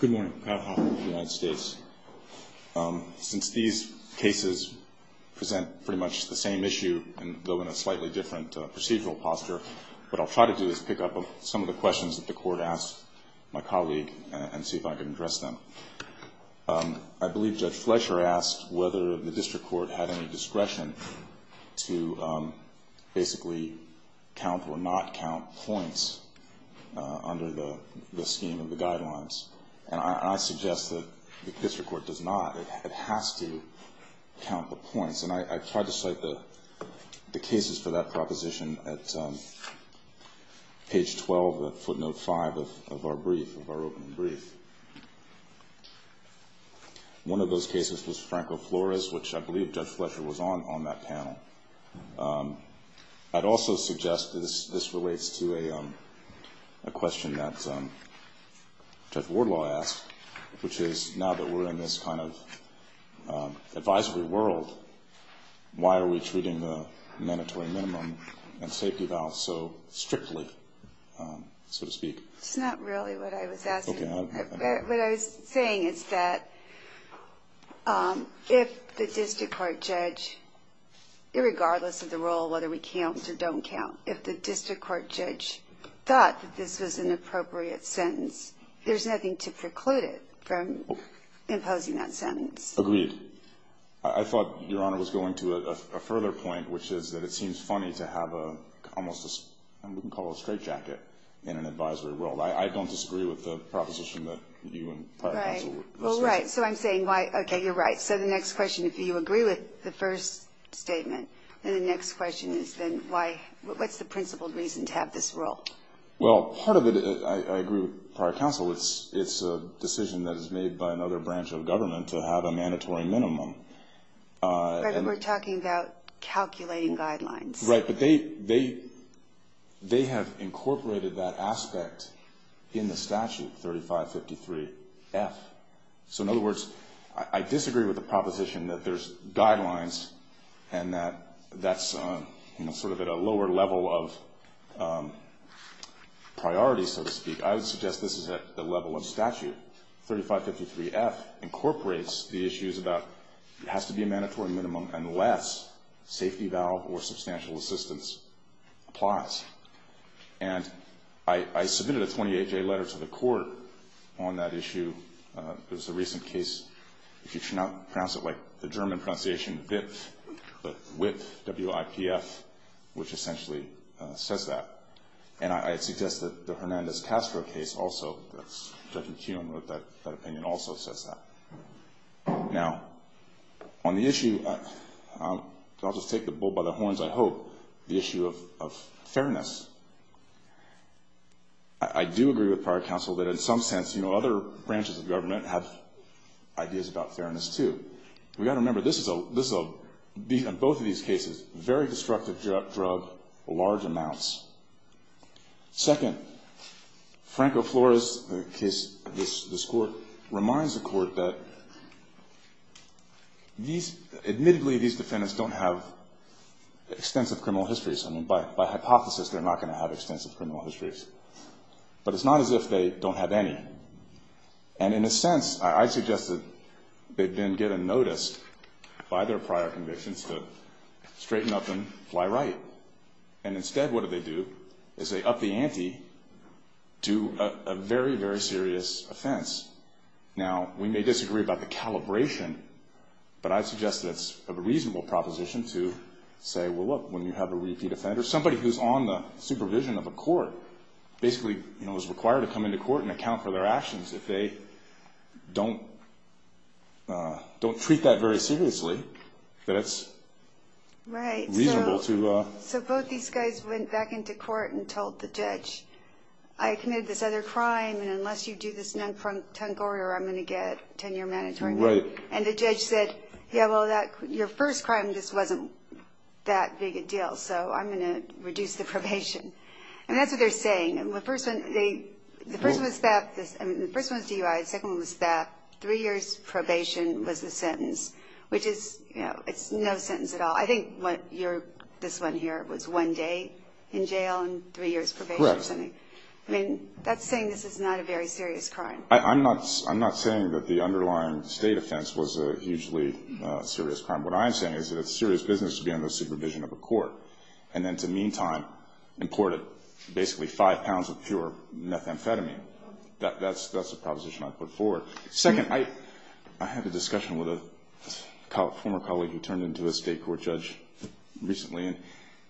Good morning. Kyle Hoffman of the United States. Since these cases present pretty much the same issue, though in a slightly different procedural posture, what I'll try to do is pick up some of the questions that the court asked my colleague and see if I can address them. I believe Judge Fletcher asked whether the district court had any discretion to basically count or not count points under the scheme of the guidelines. And I suggest that the district court does not. It has to count the points. And I tried to cite the cases for that proposition at page 12 of footnote 5 of our brief, of our opening brief. One of those cases was Franco Flores, which I believe Judge Fletcher was on on that panel. I'd also suggest that this relates to a question that Judge Wardlaw asked, which is now that we're in this kind of advisory world, why are we treating the mandatory minimum and safety vows so strictly, so to speak? It's not really what I was asking. What I was saying is that if the district court judge, irregardless of the role, whether we count or don't count, if the district court judge thought that this was an appropriate sentence, there's nothing to preclude it from imposing that sentence. Agreed. I thought Your Honor was going to a further point, which is that it seems funny to have almost a, we can call it a straitjacket in an advisory world. I don't disagree with the proposition that you and prior counsel were suggesting. Right. Well, right. So I'm saying why, okay, you're right. So the next question, if you agree with the first statement, then the next question is then why, what's the principled reason to have this rule? Well, part of it, I agree with prior counsel, it's a decision that is made by another branch of government to have a mandatory minimum. But we're talking about calculating guidelines. Right. But they have incorporated that aspect in the statute, 3553F. So in other words, I disagree with the proposition that there's guidelines and that that's sort of at a lower level of priority, so to speak. I would suggest this is at the level of statute. 3553F incorporates the issues about it has to be a mandatory minimum unless safety valve or substantial assistance applies. And I submitted a 28-J letter to the court on that issue. It was a recent case, if you should not pronounce it like the German pronunciation, WIPF, W-I-P-F, which essentially says that. Now, on the issue, I'll just take the bull by the horns, I hope, the issue of fairness. I do agree with prior counsel that in some sense, you know, other branches of government have ideas about fairness, too. But we've got to remember, this is a, on both of these cases, very destructive drug, large amounts. Second, Franco Flores' case, this Court, reminds the Court that these, admittedly, these defendants don't have extensive criminal histories. I mean, by hypothesis, they're not going to have extensive criminal histories. But it's not as if they don't have any. And in a sense, I suggest that they then get a notice by their prior convictions to straighten up and fly right. And instead, what do they do is they up the ante to a very, very serious offense. Now, we may disagree about the calibration, but I suggest that it's a reasonable proposition to say, well, look, when you have a repeat offender, somebody who's on the supervision of a court, basically, you know, is required to come into court and account for their actions. If they don't, don't treat that very seriously, then it's reasonable to... Right. So, both these guys went back into court and told the judge, I committed this other crime, and unless you do this non-frontal order, I'm going to get 10-year mandatory. Right. And the judge said, yeah, well, your first crime, this wasn't that big a deal, so I'm going to reduce the probation. And that's what they're saying. The first one was theft. I mean, the first one was DUI. The second one was theft. Three years probation was the sentence, which is, you know, it's no sentence at all. I think this one here was one day in jail and three years probation or something. Correct. I mean, that's saying this is not a very serious crime. I'm not saying that the underlying state offense was a hugely serious crime. What I'm saying is that it's serious business to be on the supervision of a court, and then to meantime, imported basically five pounds of pure methamphetamine. That's a proposition I put forward. Second, I had a discussion with a former colleague who turned into a state court judge recently, and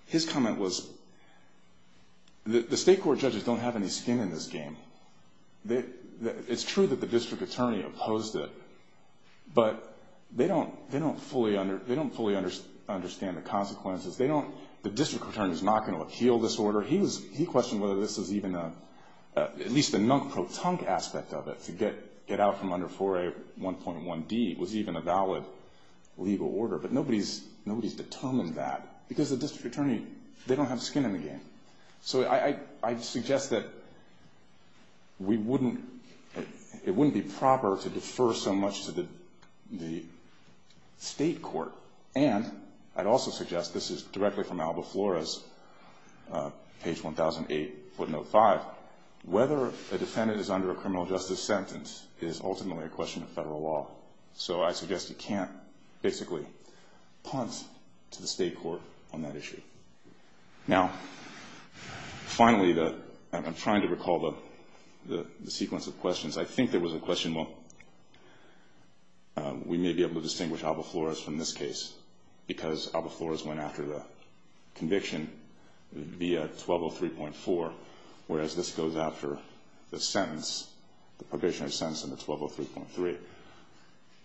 his comment was, the state court judges don't have any skin in this game. It's true that the district attorney opposed it, but they don't fully understand the consequences. The district attorney is not going to appeal this order. He questioned whether this was even a, at least the nunk-pro-tunk aspect of it, to get out from under 4A1.1D was even a valid legal order. But nobody's determined that, because the district attorney, they don't have skin in the game. So I suggest that it wouldn't be proper to defer so much to the state court. And I'd also suggest, this is directly from Alba Flores, page 1008, footnote five, whether a defendant is under a criminal justice sentence is ultimately a question of federal law. So I suggest you can't basically punt to the state court on that issue. Now, finally, I'm trying to recall the sequence of questions. I think there was a question, well, we may be able to distinguish Alba Flores from this case, because Alba Flores went after the conviction via 1203.4, whereas this goes after the sentence, the probationary sentence in the 1203.3.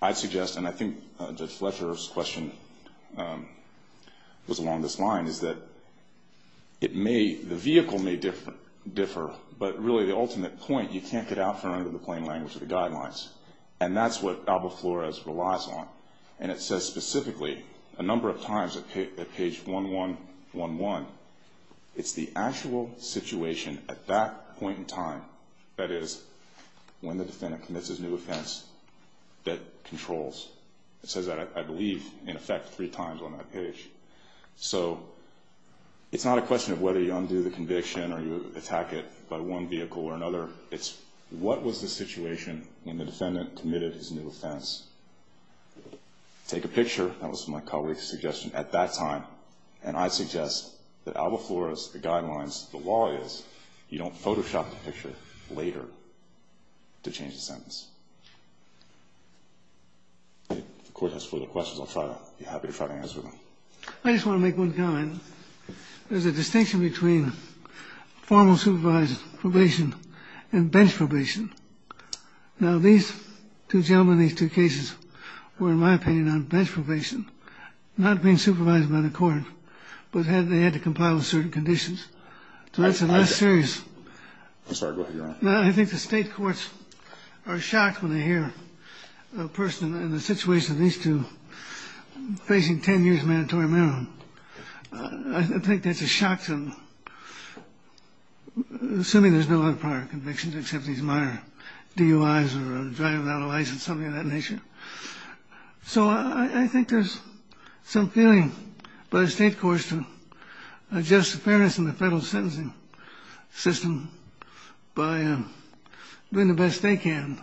I'd suggest, and I think Judge Fletcher's question was along this line, is that it may, the vehicle may differ, but really the ultimate point, you can't get out from under the plain language of the guidelines. And that's what Alba Flores relies on. And it says specifically, a number of times at page 1111, it's the actual situation at that point in time, that is, when the defendant commits his new offense, that controls. It says that, I believe, in effect, three times on that page. So it's not a question of whether you undo the conviction or you attack it by one vehicle or another. It's what was the situation when the defendant committed his new offense. Take a picture. That was my colleague's suggestion at that time. And I suggest that Alba Flores, the guidelines, the law is, you don't Photoshop the picture later to change the sentence. If the Court has further questions, I'll try to be happy to try to answer them. I just want to make one comment. There's a distinction between formal supervised probation and bench probation. Now, these two gentlemen, these two cases were, in my opinion, on bench probation, not being supervised by the Court, but they had to compile with certain conditions. So that's a less serious. I think the state courts are shocked when they hear a person in the situation of these two facing 10 years of mandatory marijuana. I think that's a shock to them, assuming there's no other prior convictions, except these minor DUIs or driving without a license, something of that nature. So I think there's some feeling by the state courts to adjust the fairness in the federal sentencing system by doing the best they can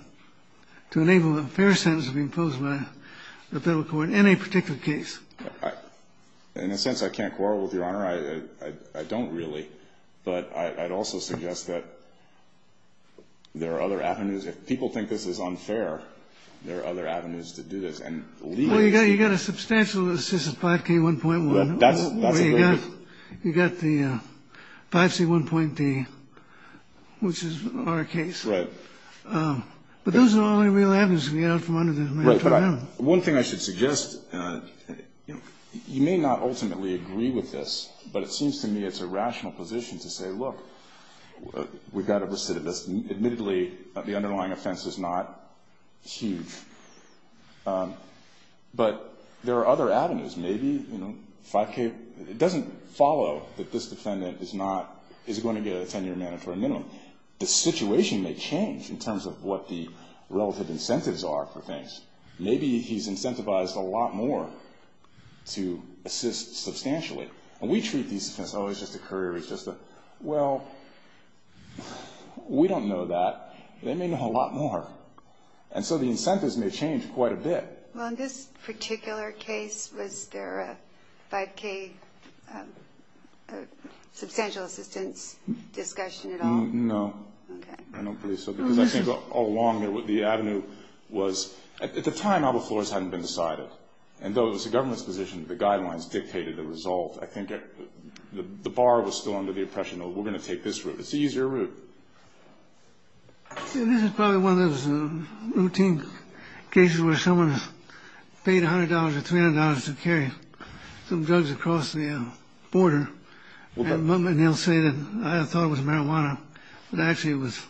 to enable a fair sentence to be imposed by the federal court in any particular case. In a sense, I can't quarrel with Your Honor. I don't really. But I'd also suggest that there are other avenues. If people think this is unfair, there are other avenues to do this. And legally, it's not. Well, you've got a substantial assist of 5K1.1. That's a very good one. You've got the 5C1.D, which is our case. Right. But those are only real avenues to get out from under the mandatory minimum. One thing I should suggest, you may not ultimately agree with this, but it seems to me it's a rational position to say, look, we've got a recidivist. Admittedly, the underlying offense is not huge. But there are other avenues. Maybe, you know, 5K, it doesn't follow that this defendant is not, is going to get a 10-year mandatory minimum. The situation may change in terms of what the relative incentives are for things. Maybe he's incentivized a lot more to assist substantially. And we treat these things, oh, it's just a career, it's just a, well, we don't know that. They may know a lot more. And so the incentives may change quite a bit. Well, in this particular case, was there a 5K substantial assistance discussion at all? No. Okay. I don't believe so, because I think all along the avenue was, at the time, all the floors hadn't been decided. And though it was the government's position, the guidelines dictated the resolve, I think the bar was still under the impression, oh, we're going to take this route. It's the easier route. This is probably one of those routine cases where someone paid $100 or $300 to carry some drugs across the border. And they'll say that I thought it was marijuana, but actually it was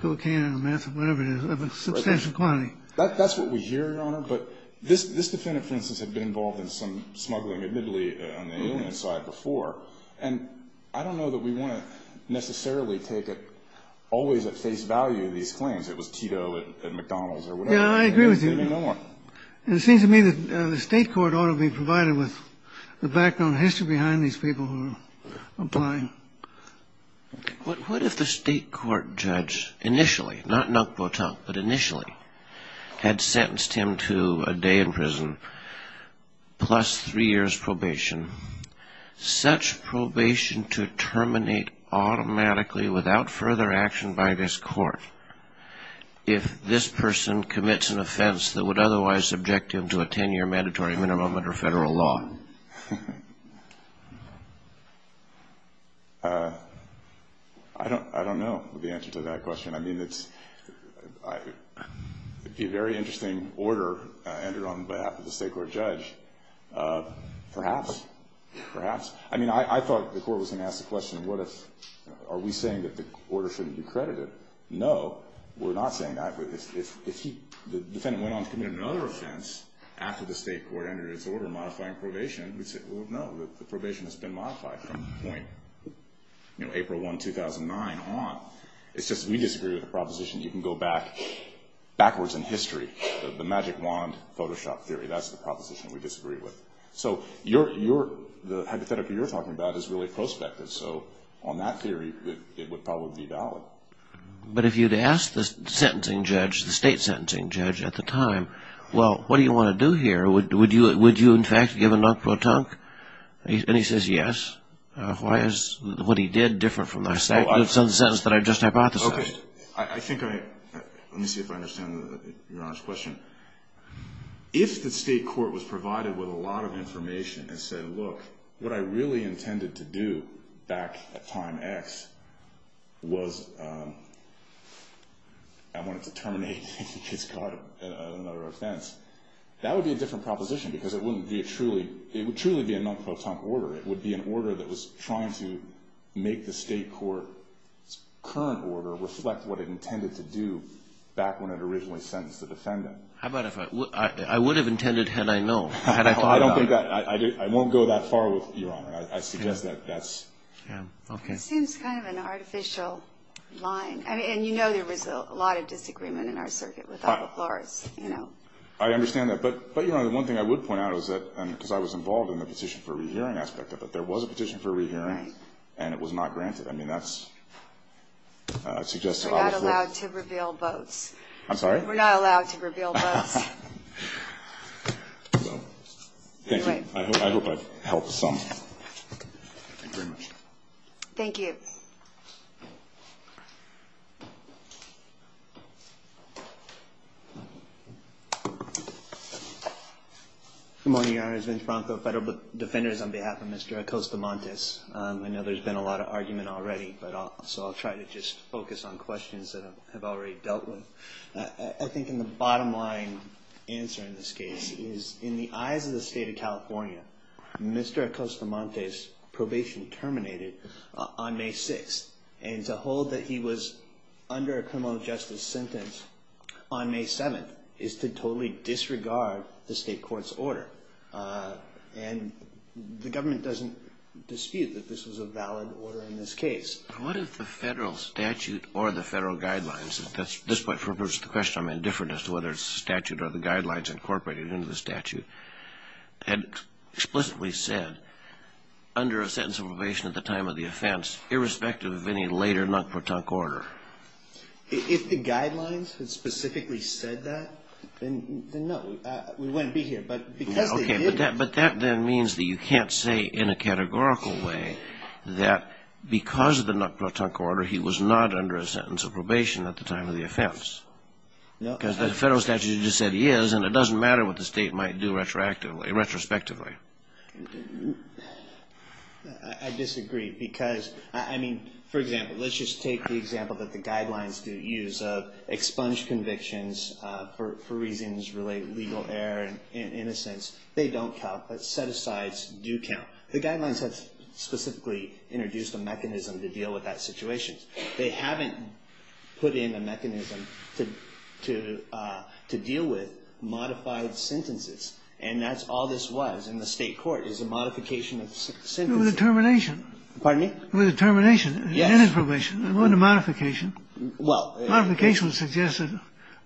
cocaine or meth or whatever it is of a substantial quantity. That's what we hear, Your Honor. But this defendant, for instance, had been involved in some smuggling, admittedly, on the alien side before. And I don't know that we want to necessarily take it always at face value, these claims. It was Tito at McDonald's or whatever. Yeah, I agree with you. They may know more. And it seems to me that the state court ought to be provided with the background history behind these people who are applying. What if the state court judge initially, not non-quotation, but initially, had sentenced him to a day in prison plus three years' probation, such probation to terminate automatically without further action by this court, if this person commits an offense that would otherwise subject him to a 10-year mandatory minimum under federal law? I don't know the answer to that question. I mean, it's a very interesting order entered on behalf of the state court judge. Perhaps. Perhaps. I mean, I thought the court was going to ask the question, are we saying that the order shouldn't be credited? No, we're not saying that. But if the defendant went on to commit another offense after the state court entered its order modifying probation, we'd say, well, no, the probation has been modified from the point, you know, April 1, 2009 on. It's just we disagree with the proposition that you can go backwards in history, the magic wand Photoshop theory. That's the proposition we disagree with. So the hypothetical you're talking about is really prospective. So on that theory, it would probably be valid. But if you'd asked the sentencing judge, the state sentencing judge at the time, well, what do you want to do here? Would you, in fact, give a non-quotation? And he says yes. Why is what he did different from the sentence that I just hypothesized? Okay. I think I – let me see if I understand Your Honor's question. If the state court was provided with a lot of information and said, look, what I really intended to do back at time X was I wanted to terminate his court of another offense, that would be a different proposition because it wouldn't be a truly – it would truly be a non-quotation order. It would be an order that was trying to make the state court's current order reflect what it intended to do back when it originally sentenced the defendant. How about if I – I would have intended had I known, had I thought about it. I don't think that – I won't go that far with you, Your Honor. I suggest that that's – Yeah. Okay. It seems kind of an artificial line. I mean, and you know there was a lot of disagreement in our circuit with Alba Flores, you know. I understand that. But, Your Honor, the one thing I would point out is that – because I was involved in the petition for rehearing aspect of it. There was a petition for rehearing. Right. And it was not granted. I mean, that's – suggests to Alba Flores – I'm sorry? We're not allowed to reveal books. Well, thank you. I hope I've helped some. Okay. Thank you very much. Thank you. Good morning, Your Honor. It's Vince Bronco, Federal Defenders, on behalf of Mr. Acosta Montes. I know there's been a lot of argument already, but I'll – I think in the bottom line answer in this case is in the eyes of the State of California, Mr. Acosta Montes' probation terminated on May 6th. And to hold that he was under a criminal justice sentence on May 7th is to totally disregard the state court's order. And the government doesn't dispute that this was a valid order in this case. What if the federal statute or the federal guidelines – at this point, for the purpose of the question, I'm indifferent as to whether it's the statute or the guidelines incorporated into the statute – had explicitly said, under a sentence of probation at the time of the offense, irrespective of any later knock-for-tunk order? If the guidelines had specifically said that, then no, we wouldn't be here. But because they did – But that then means that you can't say in a categorical way that because of the knock-for-tunk order, he was not under a sentence of probation at the time of the offense. Because the federal statute just said he is, and it doesn't matter what the state might do retrospectively. I disagree because – I mean, for example, let's just take the example that the guidelines do use of expunged convictions for reasons related to legal error. In a sense, they don't count, but set-asides do count. The guidelines have specifically introduced a mechanism to deal with that situation. They haven't put in a mechanism to deal with modified sentences. And that's all this was in the state court, is a modification of sentences. It was a termination. Pardon me? It was a termination. Yes. It ended probation. It wasn't a modification. Well – A modification would suggest that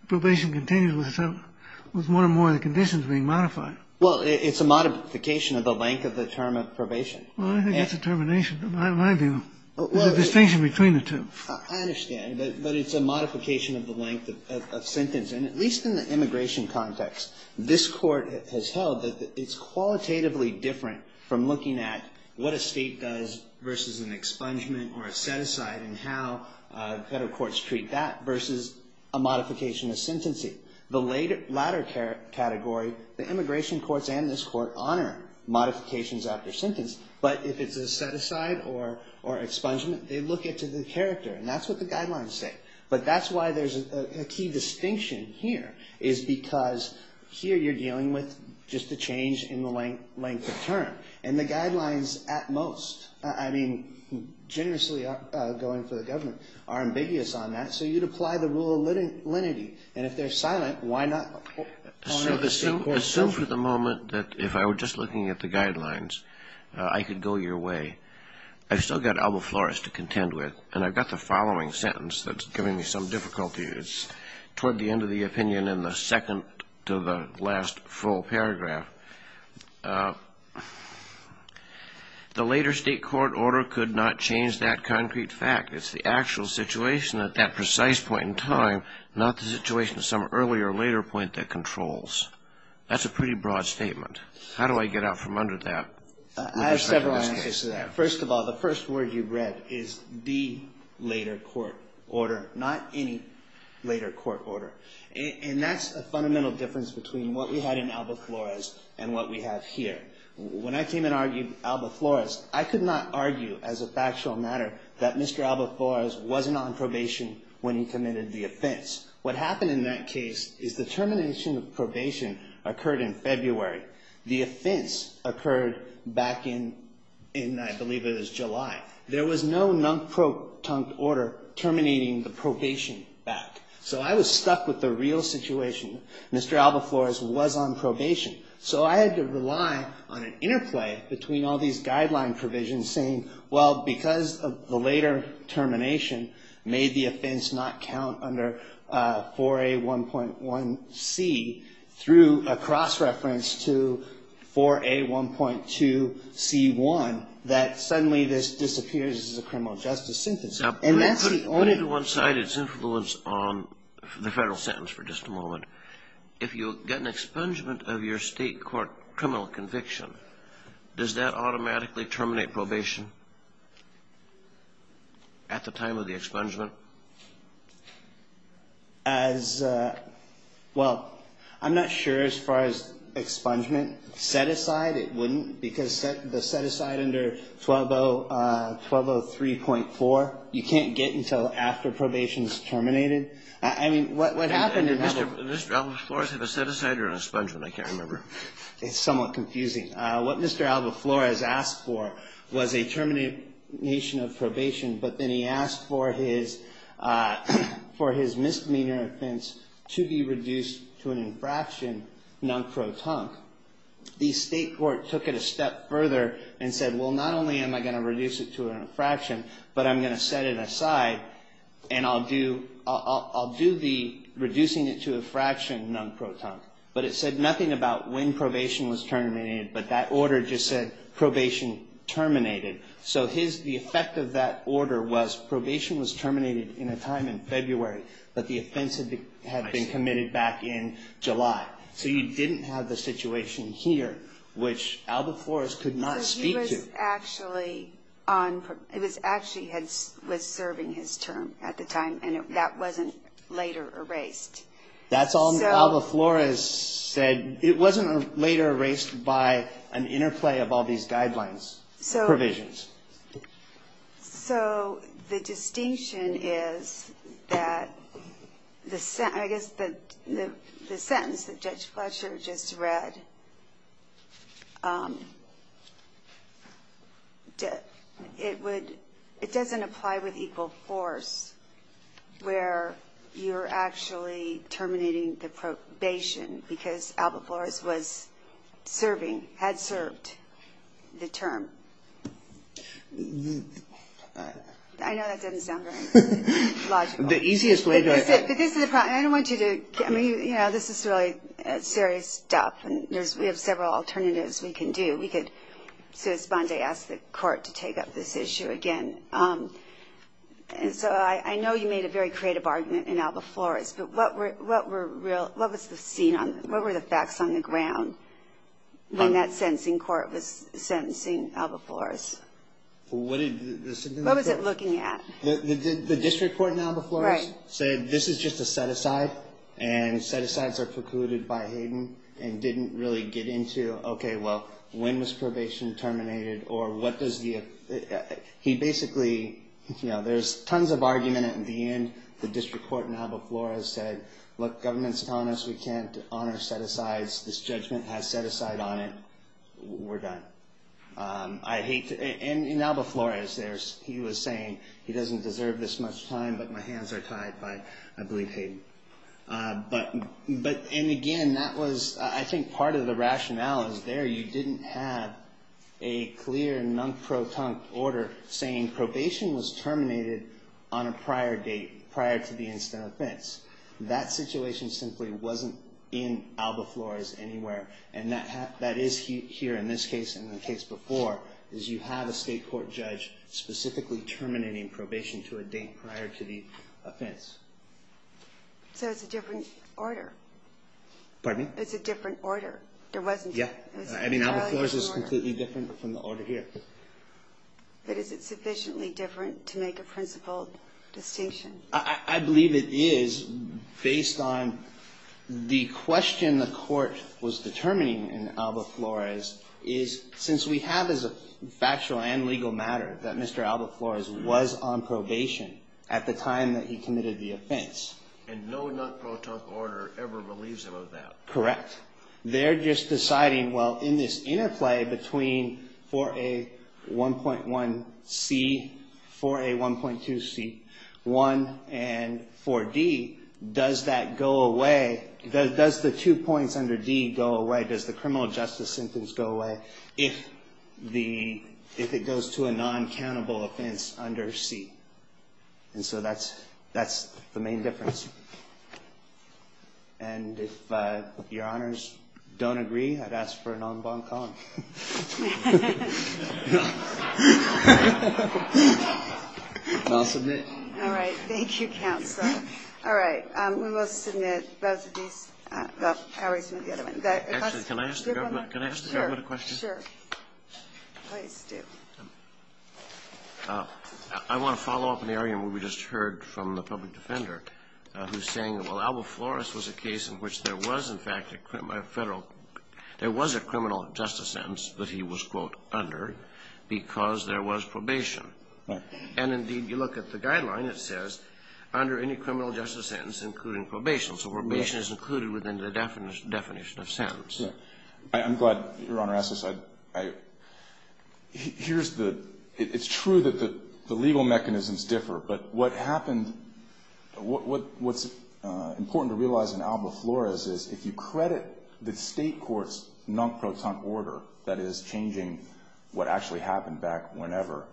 probation continues with one or more of the conditions being modified. Well, it's a modification of the length of the term of probation. Well, I think it's a termination, in my view, the distinction between the two. I understand. But it's a modification of the length of a sentence. And at least in the immigration context, this Court has held that it's qualitatively different from looking at what a state does versus an expungement or a set-aside and how federal courts treat that versus a modification of sentencing. The latter category, the immigration courts and this Court honor modifications after sentence, but if it's a set-aside or expungement, they look at the character. And that's what the guidelines say. But that's why there's a key distinction here is because here you're dealing with just a change in the length of term. And the guidelines at most, I mean, generously going for the government, are ambiguous on that. So you'd apply the rule of lenity. And if they're silent, why not honor the state court's judgment? Assume for the moment that if I were just looking at the guidelines, I could go your way. I've still got Alba Flores to contend with. And I've got the following sentence that's giving me some difficulty. Toward the end of the opinion in the second to the last full paragraph, the later state court order could not change that concrete fact. It's the actual situation at that precise point in time, not the situation at some earlier or later point that controls. That's a pretty broad statement. How do I get out from under that? I have several answers to that. First of all, the first word you read is the later court order, not any later court order. And that's a fundamental difference between what we had in Alba Flores and what we have here. When I came and argued Alba Flores, I could not argue as a factual matter that Mr. Alba Flores wasn't on probation when he committed the offense. What happened in that case is the termination of probation occurred in February. The offense occurred back in, I believe it was July. There was no non-protunct order terminating the probation back. So I was stuck with the real situation. Mr. Alba Flores was on probation. So I had to rely on an interplay between all these guideline provisions saying, well, because of the later termination made the offense not count under 4A1.1C through a cross-reference to 4A1.2C1, that suddenly this disappears as a criminal justice sentence. And that's the only one side of its influence on the federal sentence for just a moment. If you get an expungement of your state court criminal conviction, does that automatically terminate probation at the time of the expungement? As, well, I'm not sure as far as expungement. Set aside, it wouldn't because the set aside under 1203.4, you can't get until after probation is terminated. I mean, what happened in that? Did Mr. Alba Flores have a set aside or an expungement? I can't remember. It's somewhat confusing. What Mr. Alba Flores asked for was a termination of probation, but then he asked for his misdemeanor offense to be reduced to an infraction non-protunct. The state court took it a step further and said, well, not only am I going to reduce it to an infraction, but I'm going to set it aside and I'll do the reducing it to a fraction non-protunct. But it said nothing about when probation was terminated, but that order just said probation terminated. So the effect of that order was probation was terminated in a time in February, but the offense had been committed back in July. So you didn't have the situation here, which Alba Flores could not speak to. It was actually serving his term at the time, and that wasn't later erased. That's all Alba Flores said. It wasn't later erased by an interplay of all these guidelines, provisions. So the distinction is that the sentence that Judge Fletcher just read, it doesn't apply with equal force where you're actually terminating the probation because Alba Flores was serving, had served the term. I know that doesn't sound very logical. The easiest way to I think. But this is the problem. I don't want you to, I mean, you know, this is really serious stuff, and there's, we have several alternatives we can do. We could, since Bondi asked the court to take up this issue again, and so I know you made a very creative argument in Alba Flores, but what were the facts on the ground when that sentencing court was sentencing Alba Flores? What was it looking at? The district court in Alba Flores said this is just a set-aside, and set-asides are precluded by Hayden and didn't really get into, okay, well, when was probation terminated or what does the, he basically, you know, there's tons of argument at the end. The district court in Alba Flores said, look, government's telling us we can't honor set-asides. This judgment has set-aside on it. We're done. I hate to, and in Alba Flores, he was saying he doesn't deserve this much time, but my hands are tied by, I believe, Hayden. But, and again, that was, I think part of the rationale is there you didn't have a clear non-proton order saying probation was terminated on a prior date, prior to the instant offense. That situation simply wasn't in Alba Flores anywhere, and that is here in this case and the case before, is you have a state court judge specifically terminating probation to a date prior to the offense. So it's a different order. Pardon me? It's a different order. There wasn't. Yeah. I mean, Alba Flores is completely different from the order here. But is it sufficiently different to make a principal distinction? I believe it is, based on the question the court was determining in Alba Flores, is since we have as a factual and legal matter that Mr. Alba Flores was on probation at the time that he committed the offense. And no non-proton order ever believes about that. Correct. They're just deciding, well, in this interplay between 4A1.1C, 4A1.2C, 1, and 4D, does that go away? Does the two points under D go away? Does the criminal justice sentence go away if it goes to a non-countable offense under C? And so that's the main difference. And if Your Honors don't agree, I'd ask for a non-bon com. I'll submit. All right. Thank you, Counsel. All right. We will submit both of these. Actually, can I ask the government a question? Sure. Please do. I want to follow up on the argument we just heard from the public defender, who's saying, well, Alba Flores was a case in which there was, in fact, a federal – there was a criminal justice sentence that he was, quote, under because there was probation. Right. And, indeed, you look at the guideline, it says, under any criminal justice sentence including probation. So probation is included within the definition of sentence. Yeah. I'm glad Your Honor asked this. Here's the – it's true that the legal mechanisms differ. But what happened – what's important to realize in Alba Flores is if you credit the state court's non-proton order, that is changing what actually happened back whenever,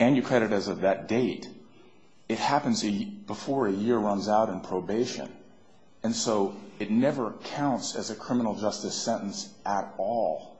and you credit it as of that date, it happens before a year runs out in probation. And so it never counts as a criminal justice sentence at all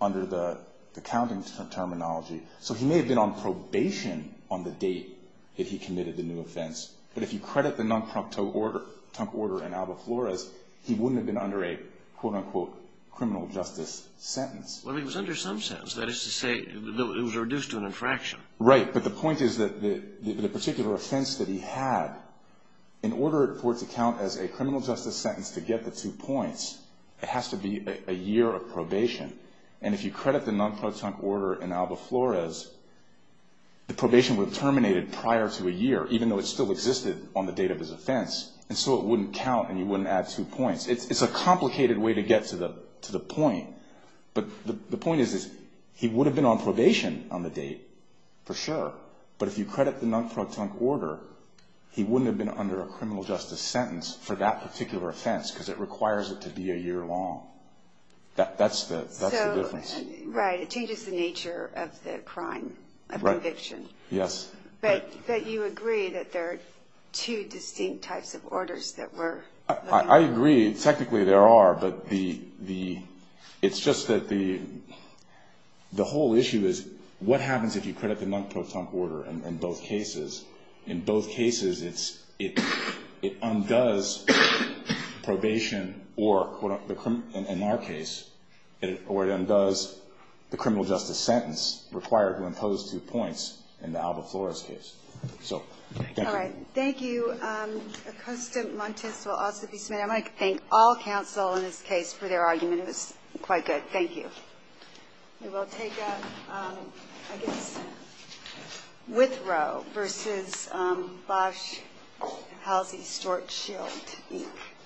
under the counting terminology. So he may have been on probation on the date that he committed the new offense. But if you credit the non-proncton order in Alba Flores, he wouldn't have been under a, quote, unquote, criminal justice sentence. Well, he was under some sentence. That is to say it was reduced to an infraction. Right. But the point is that the particular offense that he had, in order for it to count as a criminal justice sentence to get the two points, it has to be a year of probation. And if you credit the non-proncton order in Alba Flores, the probation would have terminated prior to a year, even though it still existed on the date of his offense. And so it wouldn't count and you wouldn't add two points. It's a complicated way to get to the point. But the point is he would have been on probation on the date, for sure. But if you credit the non-proncton order, he wouldn't have been under a criminal justice sentence for that particular offense because it requires it to be a year long. That's the difference. Right. It changes the nature of the crime, of conviction. Yes. But you agree that there are two distinct types of orders that we're looking for. I agree. Technically, there are. But it's just that the whole issue is what happens if you credit the non-proncton order in both cases? In both cases, it undoes probation or, in our case, it undoes the criminal justice sentence required to impose two points in the Alba Flores case. All right. Thank you. Accustant Montes will also be submitted. I want to thank all counsel in this case for their argument. It was quite good. Thank you. We will take a, I guess, Withrow versus Bosh-Halsey-Stort-Shield.